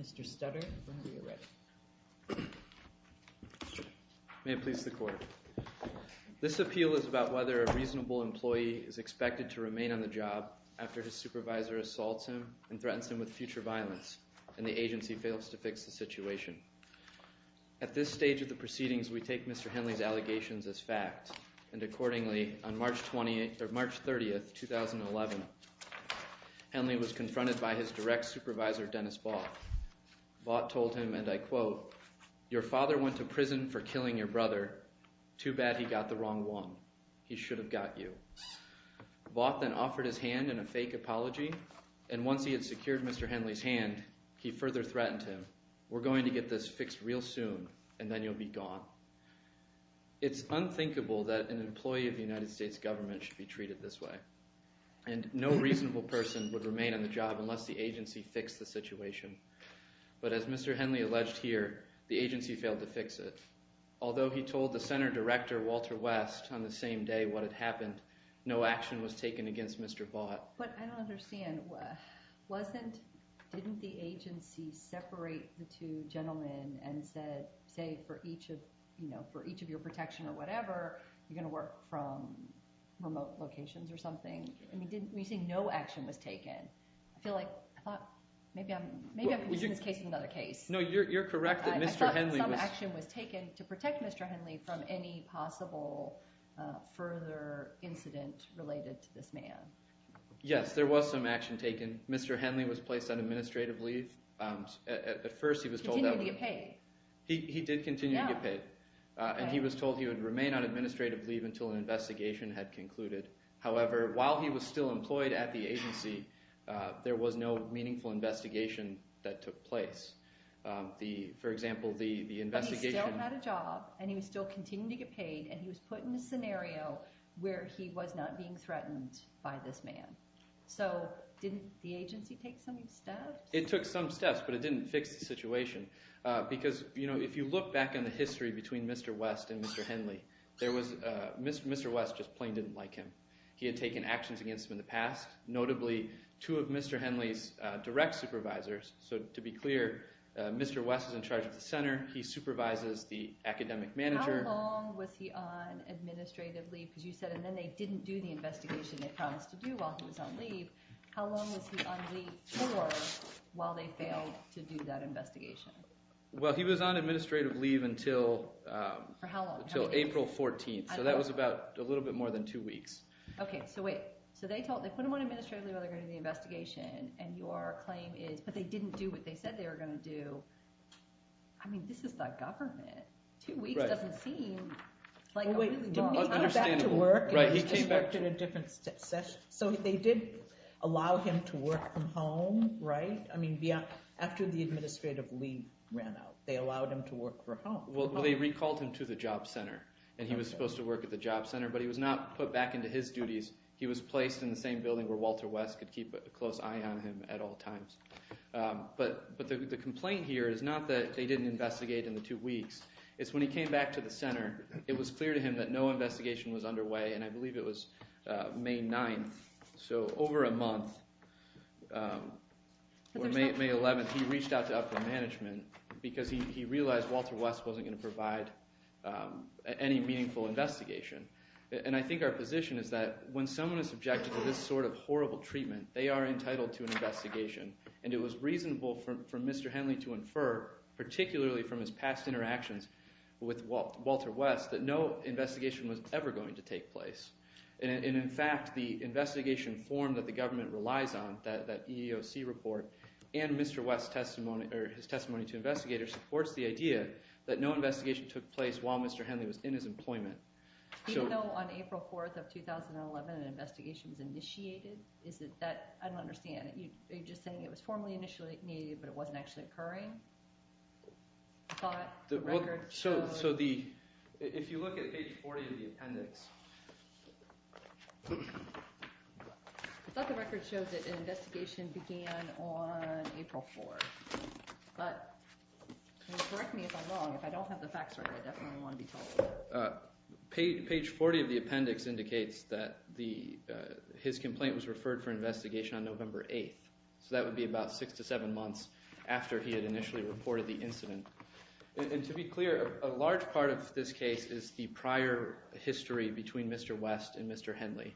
Mr. Stutter, whenever you're ready. May it please the Court. This appeal is about whether a reasonable employee is expected to remain on the job after his supervisor assaults him and threatens him with future violence, and the agency fails to fix the situation. At this stage of the proceedings, we take Mr. Henley's allegations as fact, and accordingly, on March 30, 2011, Henley was confronted by his direct supervisor, Dennis Vaught. Vaught told him, and I quote, Your father went to prison for killing your brother. Too bad he got the wrong one. He should have got you. Vaught then offered his hand in a fake apology, and once he had secured Mr. Henley's hand, he further threatened him, We're going to get this fixed real soon, and then you'll be gone. It's unthinkable that an employee of the United States government should be treated this way. And no reasonable person would remain on the job unless the agency fixed the situation. But as Mr. Henley alleged here, the agency failed to fix it. Although he told the center director, Walter West, on the same day what had happened, no action was taken against Mr. Vaught. But I don't understand. Wasn't, didn't the agency separate the two gentlemen and said, say, for each of, you know, for each of your protection or whatever, you're going to work from remote locations or something? I mean, didn't you say no action was taken? I feel like, I thought, maybe I'm, maybe I'm conditioning this case with another case. No, you're correct that Mr. Henley was- I thought some action was taken to protect Mr. Henley from any possible further incident related to this man. Yes, there was some action taken. Mr. Henley was placed on administrative leave. At first he was told- Continued to get paid. He did continue to get paid. Yeah. And he was told he would remain on administrative leave until an investigation had concluded. However, while he was still employed at the agency, there was no meaningful investigation that took place. The, for example, the investigation- But he still had a job, and he was still continuing to get paid, and he was put in a scenario where he was not being threatened by this man. So, didn't the agency take some steps? It took some steps, but it didn't fix the situation. Because, you know, if you look back in the history between Mr. West and Mr. Henley, there was, Mr. West just plain didn't like him. He had taken actions against him in the past, notably two of Mr. Henley's direct supervisors. So, to be clear, Mr. West is in charge of the center. He supervises the academic manager. How long was he on administrative leave? Because you said, and then they didn't do the investigation they promised to do while he was on leave. How long was he on leave for while they failed to do that investigation? Well, he was on administrative leave until- For how long? Until April 14th, so that was about a little bit more than two weeks. Okay, so wait. So they told, they put him on administrative leave while they were going to do the investigation, and your claim is, but they didn't do what they said they were going to do. I mean, this is the government. Two weeks doesn't seem like a really long time. So they did allow him to work from home, right? I mean, after the administrative leave ran out, they allowed him to work from home. Well, they recalled him to the job center, and he was supposed to work at the job center, but he was not put back into his duties. He was placed in the same building where Walter West could keep a close eye on him at all times. But the complaint here is not that they didn't investigate in the two weeks. It's when he came back to the center, it was clear to him that no investigation was underway, and I believe it was May 9th. So over a month, or May 11th, he reached out to upper management because he realized Walter West wasn't going to provide any meaningful investigation. And I think our position is that when someone is subjected to this sort of horrible treatment, they are entitled to an investigation. And it was reasonable for Mr. Henley to infer, particularly from his past interactions with Walter West, that no investigation was ever going to take place. And in fact, the investigation form that the government relies on, that EEOC report, and Mr. West's testimony to investigators supports the idea that no investigation took place while Mr. Henley was in his employment. Even though on April 4th of 2011 an investigation was initiated, is it that – I don't understand. Are you just saying it was formally initiated but it wasn't actually occurring? I thought the record showed – So the – if you look at page 40 of the appendix – I thought the record showed that an investigation began on April 4th. But correct me if I'm wrong. If I don't have the facts right, I definitely want to be told. Page 40 of the appendix indicates that his complaint was referred for investigation on November 8th. So that would be about six to seven months after he had initially reported the incident. And to be clear, a large part of this case is the prior history between Mr. West and Mr. Henley.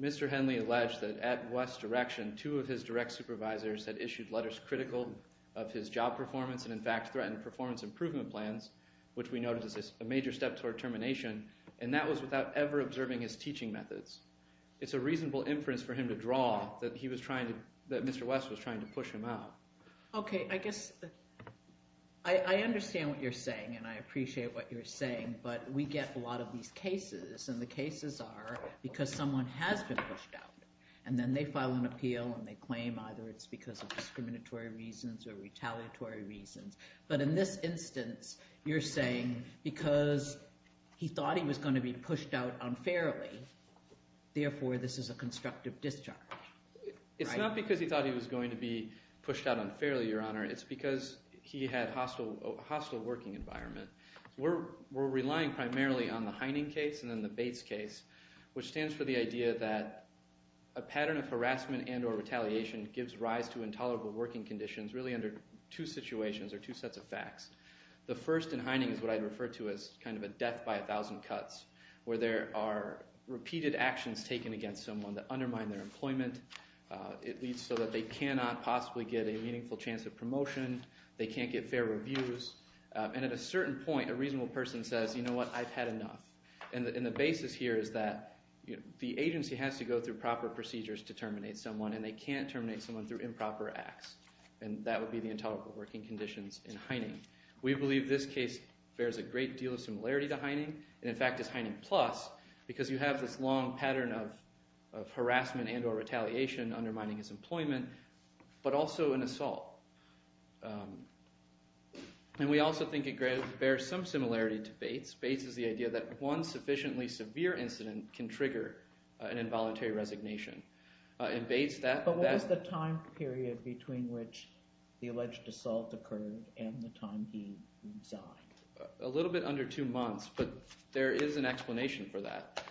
Mr. Henley alleged that at West's direction two of his direct supervisors had issued letters critical of his job performance and, in fact, threatened performance improvement plans, which we noted as a major step toward termination, and that was without ever observing his teaching methods. It's a reasonable inference for him to draw that he was trying to – that Mr. West was trying to push him out. Okay, I guess – I understand what you're saying, and I appreciate what you're saying, but we get a lot of these cases, and the cases are because someone has been pushed out, and then they file an appeal and they claim either it's because of discriminatory reasons or retaliatory reasons. But in this instance, you're saying because he thought he was going to be pushed out unfairly, therefore this is a constructive discharge. It's not because he thought he was going to be pushed out unfairly, Your Honor. It's because he had a hostile working environment. We're relying primarily on the Heining case and then the Bates case, which stands for the idea that a pattern of harassment and or retaliation gives rise to intolerable working conditions really under two situations or two sets of facts. The first in Heining is what I'd refer to as kind of a death by a thousand cuts where there are repeated actions taken against someone that undermine their employment. It leads so that they cannot possibly get a meaningful chance of promotion. They can't get fair reviews. And at a certain point, a reasonable person says, you know what? I've had enough. And the basis here is that the agency has to go through proper procedures to terminate someone, and they can't terminate someone through improper acts, and that would be the intolerable working conditions in Heining. We believe this case bears a great deal of similarity to Heining and, in fact, is Heining plus because you have this long pattern of harassment and or retaliation undermining his employment but also an assault. And we also think it bears some similarity to Bates. Bates is the idea that one sufficiently severe incident can trigger an involuntary resignation. But what is the time period between which the alleged assault occurred and the time he died? A little bit under two months, but there is an explanation for that.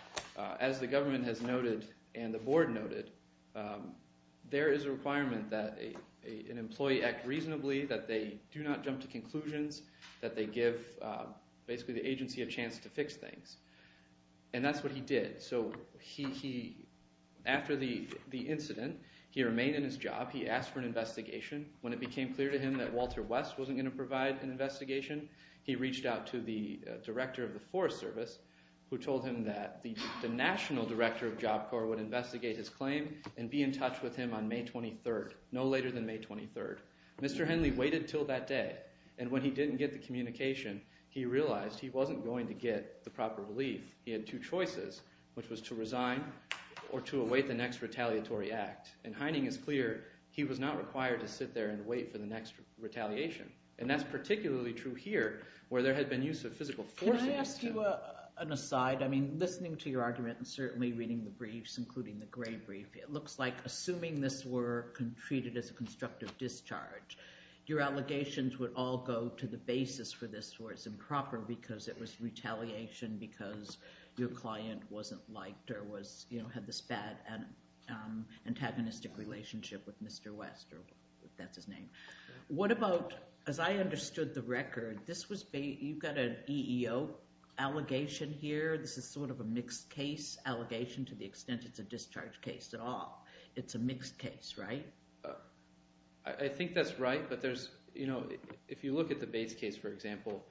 As the government has noted and the board noted, there is a requirement that an employee act reasonably, that they do not jump to conclusions, that they give basically the agency a chance to fix things, and that's what he did. So after the incident, he remained in his job. He asked for an investigation. When it became clear to him that Walter West wasn't going to provide an investigation, he reached out to the director of the Forest Service who told him that the national director of Job Corps would investigate his claim and be in touch with him on May 23rd, no later than May 23rd. Mr. Henley waited until that day, and when he didn't get the communication, he realized he wasn't going to get the proper relief. He had two choices, which was to resign or to await the next retaliatory act. And Heining is clear he was not required to sit there and wait for the next retaliation, and that's particularly true here where there had been use of physical force against him. Can I ask you an aside? I mean, listening to your argument and certainly reading the briefs, including the Gray brief, it looks like assuming this were treated as a constructive discharge, your allegations would all go to the basis for this where it's improper because it was retaliation because your client wasn't liked or had this bad antagonistic relationship with Mr. West, or that's his name. What about, as I understood the record, you've got an EEO allegation here, this is sort of a mixed case allegation to the extent it's a discharge case at all. It's a mixed case, right? I think that's right, but if you look at the Bates case, for example,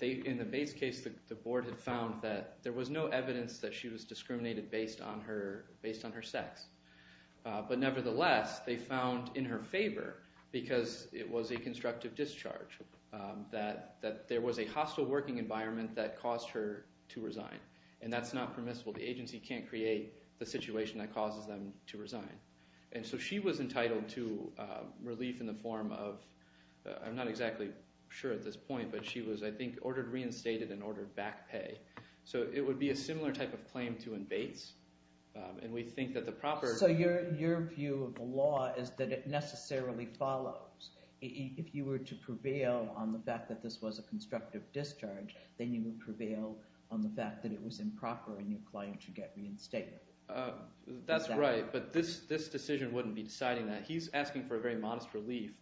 in the Bates case the board had found that there was no evidence that she was discriminated based on her sex. But nevertheless, they found in her favor, because it was a constructive discharge, that there was a hostile working environment that caused her to resign, and that's not permissible. The agency can't create the situation that causes them to resign. And so she was entitled to relief in the form of – I'm not exactly sure at this point, but she was, I think, ordered reinstated and ordered back pay. So it would be a similar type of claim to in Bates, and we think that the proper – If you were to prevail on the fact that this was a constructive discharge, then you would prevail on the fact that it was improper and your client should get reinstated. That's right, but this decision wouldn't be deciding that. He's asking for a very modest relief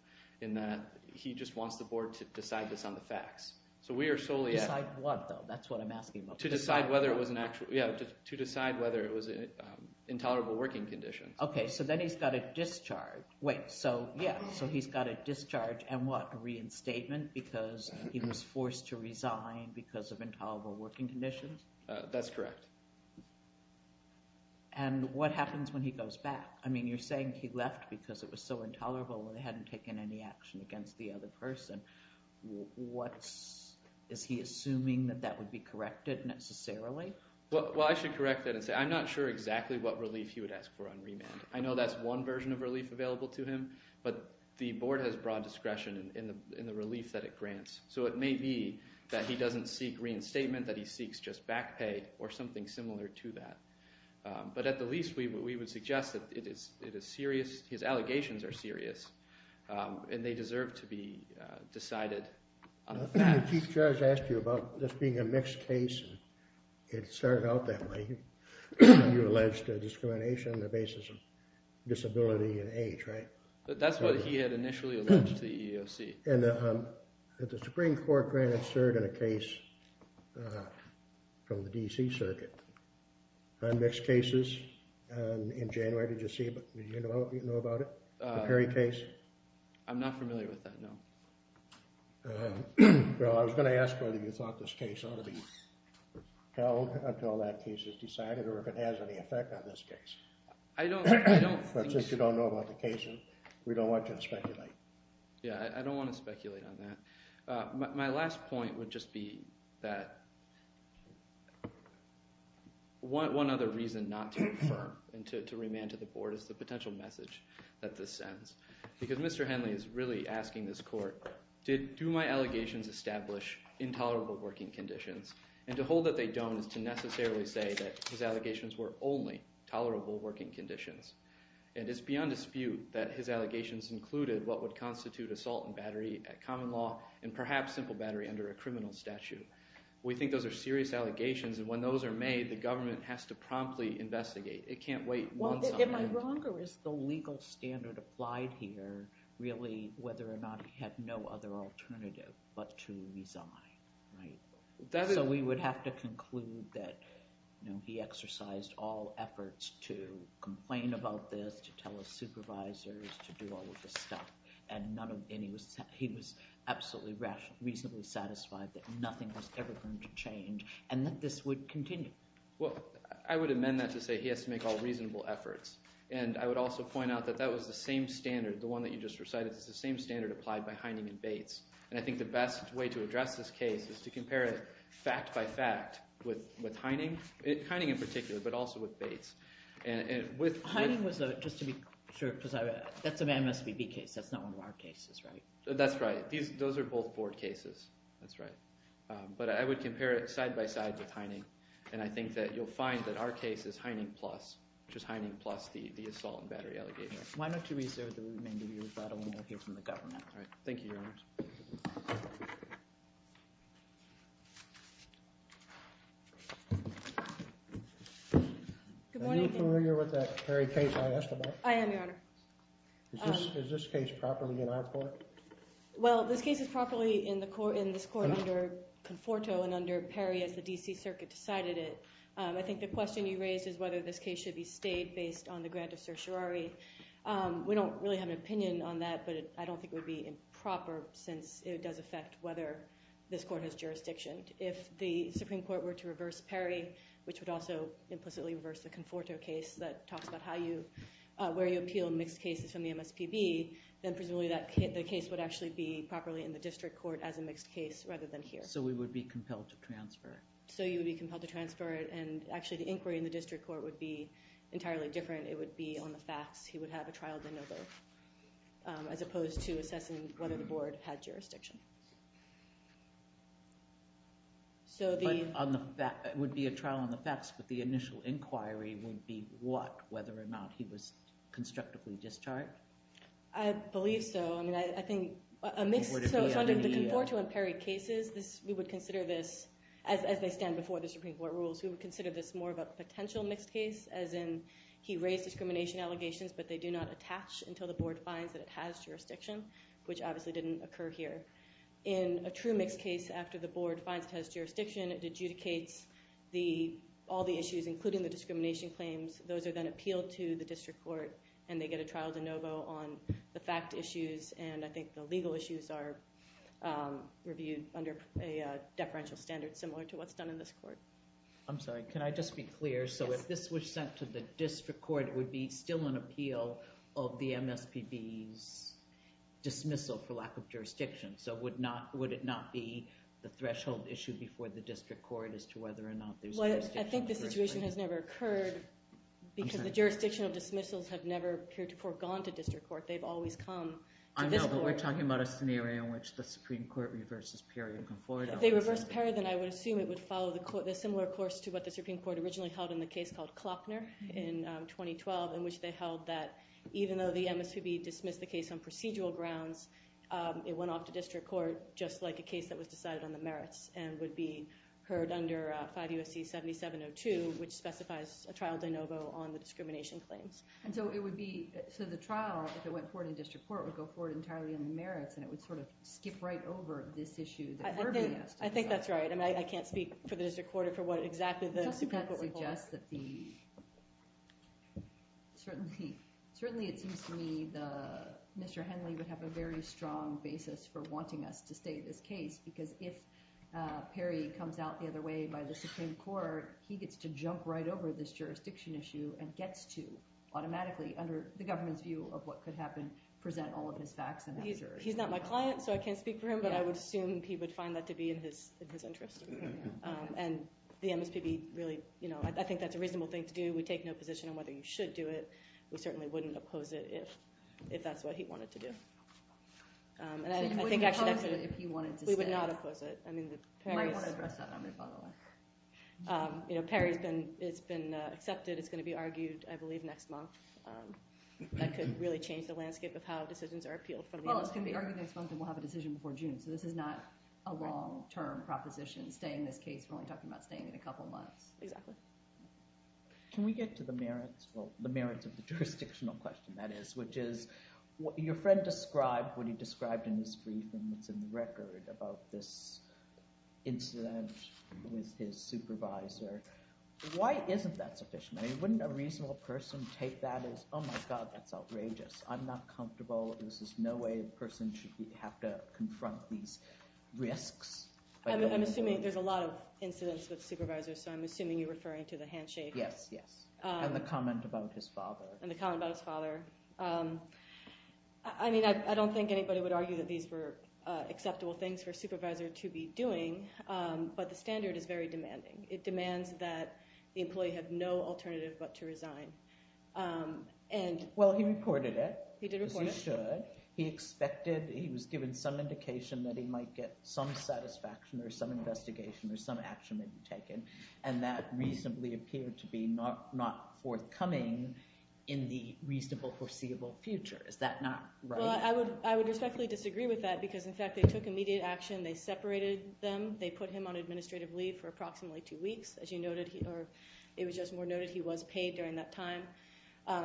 in that he just wants the board to decide this on the facts. So we are solely – Decide what, though? That's what I'm asking about. To decide whether it was an actual – yeah, to decide whether it was an intolerable working condition. Okay, so then he's got a discharge. Wait, so yeah, so he's got a discharge and what, a reinstatement because he was forced to resign because of intolerable working conditions? That's correct. And what happens when he goes back? I mean, you're saying he left because it was so intolerable and they hadn't taken any action against the other person. What's – is he assuming that that would be corrected necessarily? Well, I should correct that and say I'm not sure exactly what relief he would ask for on remand. I know that's one version of relief available to him, but the board has broad discretion in the relief that it grants. So it may be that he doesn't seek reinstatement, that he seeks just back pay or something similar to that. But at the least, we would suggest that it is serious – his allegations are serious and they deserve to be decided on the facts. The Chief Judge asked you about this being a mixed case and it started out that way. You alleged discrimination on the basis of disability and age, right? That's what he had initially alleged to the EEOC. And the Supreme Court granted cert in a case from the D.C. Circuit on mixed cases in January. Did you know about it, the Perry case? I'm not familiar with that, no. Well, I was going to ask whether you thought this case ought to be held until that case is decided or if it has any effect on this case. I don't think so. But since you don't know about the case, we don't want to speculate. Yeah, I don't want to speculate on that. My last point would just be that one other reason not to confirm and to remand to the board is the potential message that this sends. Because Mr. Henley is really asking this court, do my allegations establish intolerable working conditions? And to hold that they don't is to necessarily say that his allegations were only tolerable working conditions. And it's beyond dispute that his allegations included what would constitute assault and battery at common law and perhaps simple battery under a criminal statute. We think those are serious allegations, and when those are made, the government has to promptly investigate. It can't wait. Am I wrong, or is the legal standard applied here really whether or not he had no other alternative but to resign, right? So we would have to conclude that he exercised all efforts to complain about this, to tell his supervisors, to do all of this stuff. And he was absolutely reasonably satisfied that nothing was ever going to change and that this would continue. Well, I would amend that to say he has to make all reasonable efforts. And I would also point out that that was the same standard, the one that you just recited. It's the same standard applied by Heining and Bates. And I think the best way to address this case is to compare it fact by fact with Heining, Heining in particular, but also with Bates. Heining was a – just to be sure, because that's an MSBB case. That's not one of our cases, right? That's right. Those are both board cases. That's right. But I would compare it side by side with Heining, and I think that you'll find that our case is Heining plus, which is Heining plus the assault and battery allegation. Why don't you reserve the remainder of your rebuttal, and we'll hear from the government. All right. Thank you, Your Honor. Good morning. Are you familiar with that Perry case I asked about? I am, Your Honor. Is this case properly in our court? Well, this case is properly in this court under Conforto and under Perry as the D.C. Circuit decided it. I think the question you raised is whether this case should be stayed based on the grant of certiorari. We don't really have an opinion on that, but I don't think it would be improper since it does affect whether this court has jurisdiction. If the Supreme Court were to reverse Perry, which would also implicitly reverse the Conforto case that talks about how you – where you appeal mixed cases from the MSBB, then presumably that case would actually be properly in the district court as a mixed case rather than here. So we would be compelled to transfer? So you would be compelled to transfer it, and actually the inquiry in the district court would be entirely different. It would be on the facts. He would have a trial de novo as opposed to assessing whether the board had jurisdiction. So the – But on the – it would be a trial on the facts, but the initial inquiry would be what, whether or not he was constructively discharged? I believe so. I mean, I think a mixed – so the Conforto and Perry cases, we would consider this – as they stand before the Supreme Court rules, we would consider this more of a potential mixed case as in he raised discrimination allegations, but they do not attach until the board finds that it has jurisdiction, which obviously didn't occur here. In a true mixed case, after the board finds it has jurisdiction, it adjudicates the – all the issues, including the discrimination claims. Those are then appealed to the district court, and they get a trial de novo on the fact issues, and I think the legal issues are reviewed under a deferential standard similar to what's done in this court. I'm sorry. Can I just be clear? Yes. So if this was sent to the district court, it would be still an appeal of the MSPB's dismissal for lack of jurisdiction. So would it not be the threshold issue before the district court as to whether or not there's jurisdiction? I think the situation has never occurred because the jurisdiction of dismissals have never foregone to district court. They've always come to this court. I know, but we're talking about a scenario in which the Supreme Court reverses Perry and Conforto. If they reverse Perry, then I would assume it would follow the similar course to what the Supreme Court originally held in the case called Klopner in 2012 in which they held that even though the MSPB dismissed the case on procedural grounds, it went off to district court just like a case that was decided on the merits and would be heard under 5 U.S.C. 7702, which specifies a trial de novo on the discrimination claims. And so it would be – so the trial, if it went forward in district court, would go forward entirely on the merits, and it would sort of skip right over this issue that we're being asked to decide. I think that's right. I mean, I can't speak for the district court or for what exactly the Supreme Court would hold. I guess that the – certainly it seems to me Mr. Henley would have a very strong basis for wanting us to stay this case because if Perry comes out the other way by the Supreme Court, he gets to jump right over this jurisdiction issue and gets to automatically, under the government's view of what could happen, present all of his facts. He's not my client, so I can't speak for him, but I would assume he would find that to be in his interest. And the MSPB really – I think that's a reasonable thing to do. We take no position on whether you should do it. We certainly wouldn't oppose it if that's what he wanted to do. So you wouldn't oppose it if he wanted to stay? We would not oppose it. You might want to address that on the follow-up. Perry has been accepted. It's going to be argued, I believe, next month. That could really change the landscape of how decisions are appealed for the MSPB. Well, it's going to be argued next month and we'll have a decision before June, so this is not a long-term proposition, staying this case. We're only talking about staying it a couple months. Exactly. Can we get to the merits – well, the merits of the jurisdictional question, that is, which is your friend described what he described in his briefing that's in the record about this incident with his supervisor. Why isn't that sufficient? I mean, wouldn't a reasonable person take that as, oh, my God, that's outrageous. I'm not comfortable. This is no way a person should have to confront these risks. I'm assuming there's a lot of incidents with supervisors, so I'm assuming you're referring to the handshake. Yes, yes, and the comment about his father. And the comment about his father. I mean, I don't think anybody would argue that these were acceptable things for a supervisor to be doing, but the standard is very demanding. It demands that the employee have no alternative but to resign. Well, he reported it. He did report it. Because he should. He expected – he was given some indication that he might get some satisfaction or some investigation or some action may be taken, and that reasonably appeared to be not forthcoming in the reasonable foreseeable future. Is that not right? Well, I would respectfully disagree with that because, in fact, they took immediate action. They separated them. They put him on administrative leave for approximately two weeks. As you noted, or it was just more noted, he was paid during that time.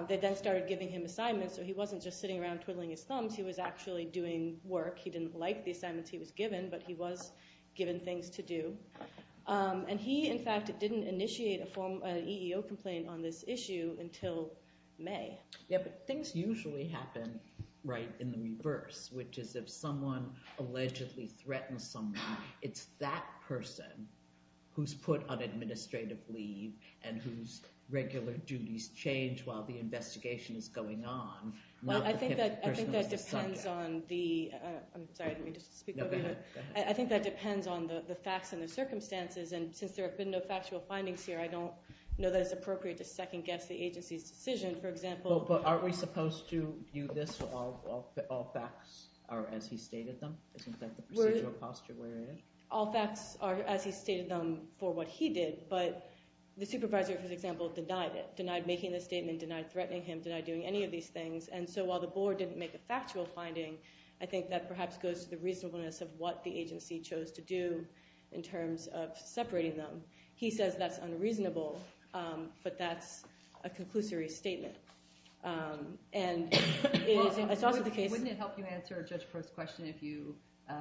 They then started giving him assignments, so he wasn't just sitting around twiddling his thumbs. He was actually doing work. He didn't like the assignments he was given, but he was given things to do. And he, in fact, didn't initiate an EEO complaint on this issue until May. Yeah, but things usually happen right in the reverse, which is if someone allegedly threatens someone, it's that person who's put on administrative leave and whose regular duties change while the investigation is going on. Well, I think that depends on the facts and the circumstances, and since there have been no factual findings here, I don't know that it's appropriate to second-guess the agency's decision. For example— But aren't we supposed to view this as all facts are as he stated them? Isn't that the procedural posture we're in? All facts are as he stated them for what he did, but the supervisor, for example, denied it, denied making the statement, denied threatening him, denied doing any of these things. And so while the board didn't make a factual finding, I think that perhaps goes to the reasonableness of what the agency chose to do in terms of separating them. He says that's unreasonable, but that's a conclusory statement. And it's also the case— Wouldn't it help you answer Judge Prost's question if you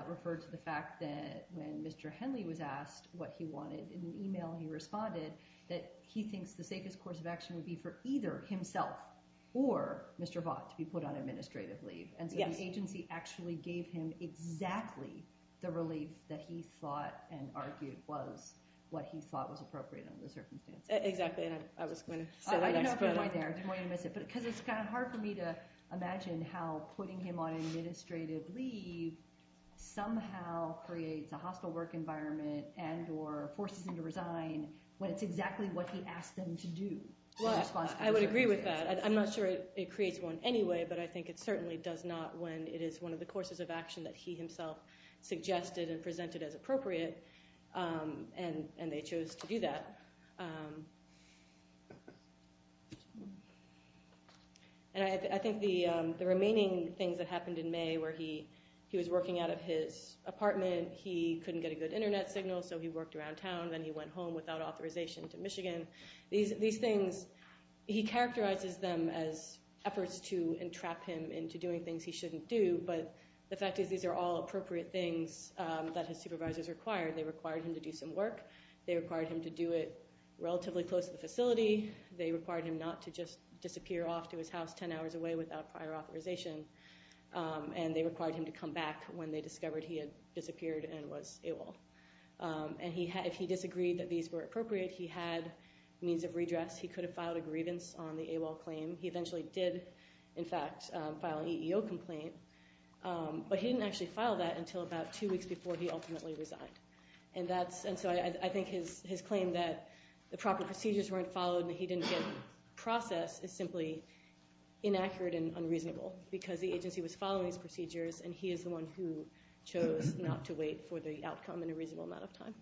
referred to the fact that when Mr. Henley was asked what he wanted in an email, he responded that he thinks the safest course of action would be for either himself or Mr. Vaught to be put on administrative leave. And so the agency actually gave him exactly the relief that he thought and argued was what he thought was appropriate under the circumstances. Exactly, and I was going to say that. Because it's kind of hard for me to imagine how putting him on administrative leave somehow creates a hostile work environment and or forces him to resign when it's exactly what he asked them to do. I would agree with that. I'm not sure it creates one anyway, but I think it certainly does not when it is one of the courses of action that he himself suggested and presented as appropriate, and they chose to do that. And I think the remaining things that happened in May where he was working out of his apartment, he couldn't get a good internet signal, so he worked around town. Then he went home without authorization to Michigan. These things, he characterizes them as efforts to entrap him into doing things he shouldn't do, but the fact is these are all appropriate things that his supervisors required. They required him to do some work. They required him to do it relatively close to the facility. They required him not to just disappear off to his house 10 hours away without prior authorization, and they required him to come back when they discovered he had disappeared and was AWOL. And if he disagreed that these were appropriate, he had means of redress. He could have filed a grievance on the AWOL claim. He eventually did, in fact, file an EEO complaint, but he didn't actually file that until about two weeks before he ultimately resigned. And so I think his claim that the proper procedures weren't followed and he didn't get process is simply inaccurate and unreasonable because the agency was following his procedures and he is the one who chose not to wait for the outcome in a reasonable amount of time.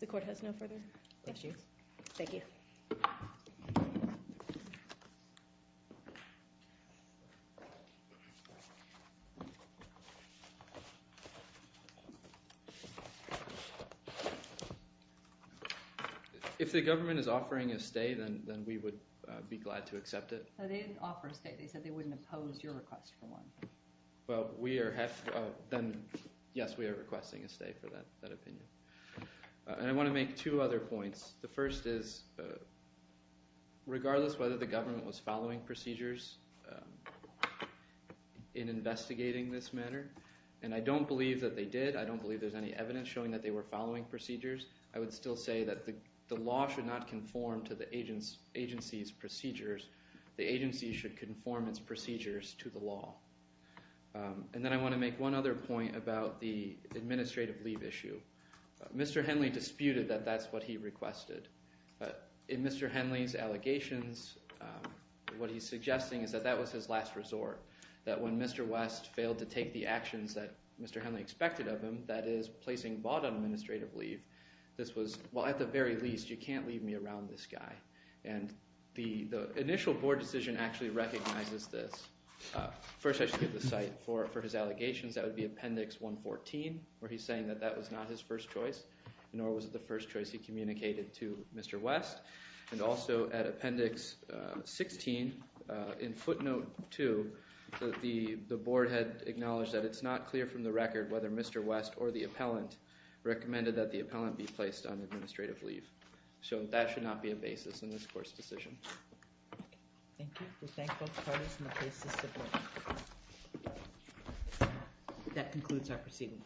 The court has no further questions. Thank you. Thank you. If the government is offering a stay, then we would be glad to accept it. No, they didn't offer a stay. They said they wouldn't oppose your request for one. Well, we are—then, yes, we are requesting a stay for that opinion. And I want to make two other points. The first is regardless whether the government was following procedures in investigating this matter, and I don't believe that they did. I don't believe there's any evidence showing that they were following procedures. I would still say that the law should not conform to the agency's procedures. The agency should conform its procedures to the law. And then I want to make one other point about the administrative leave issue. Mr. Henley disputed that that's what he requested. In Mr. Henley's allegations, what he's suggesting is that that was his last resort, that when Mr. West failed to take the actions that Mr. Henley expected of him, that is placing bought on administrative leave, this was, well, at the very least, you can't leave me around this guy. And the initial board decision actually recognizes this. First, I should give the site for his allegations. That would be Appendix 114 where he's saying that that was not his first choice, nor was it the first choice he communicated to Mr. West. And also at Appendix 16 in footnote 2, the board had acknowledged that it's not clear from the record whether Mr. West or the appellant recommended that the appellant be placed on administrative leave. So that should not be a basis in this court's decision. Thank you. We thank both parties in the case's support. That concludes our proceedings.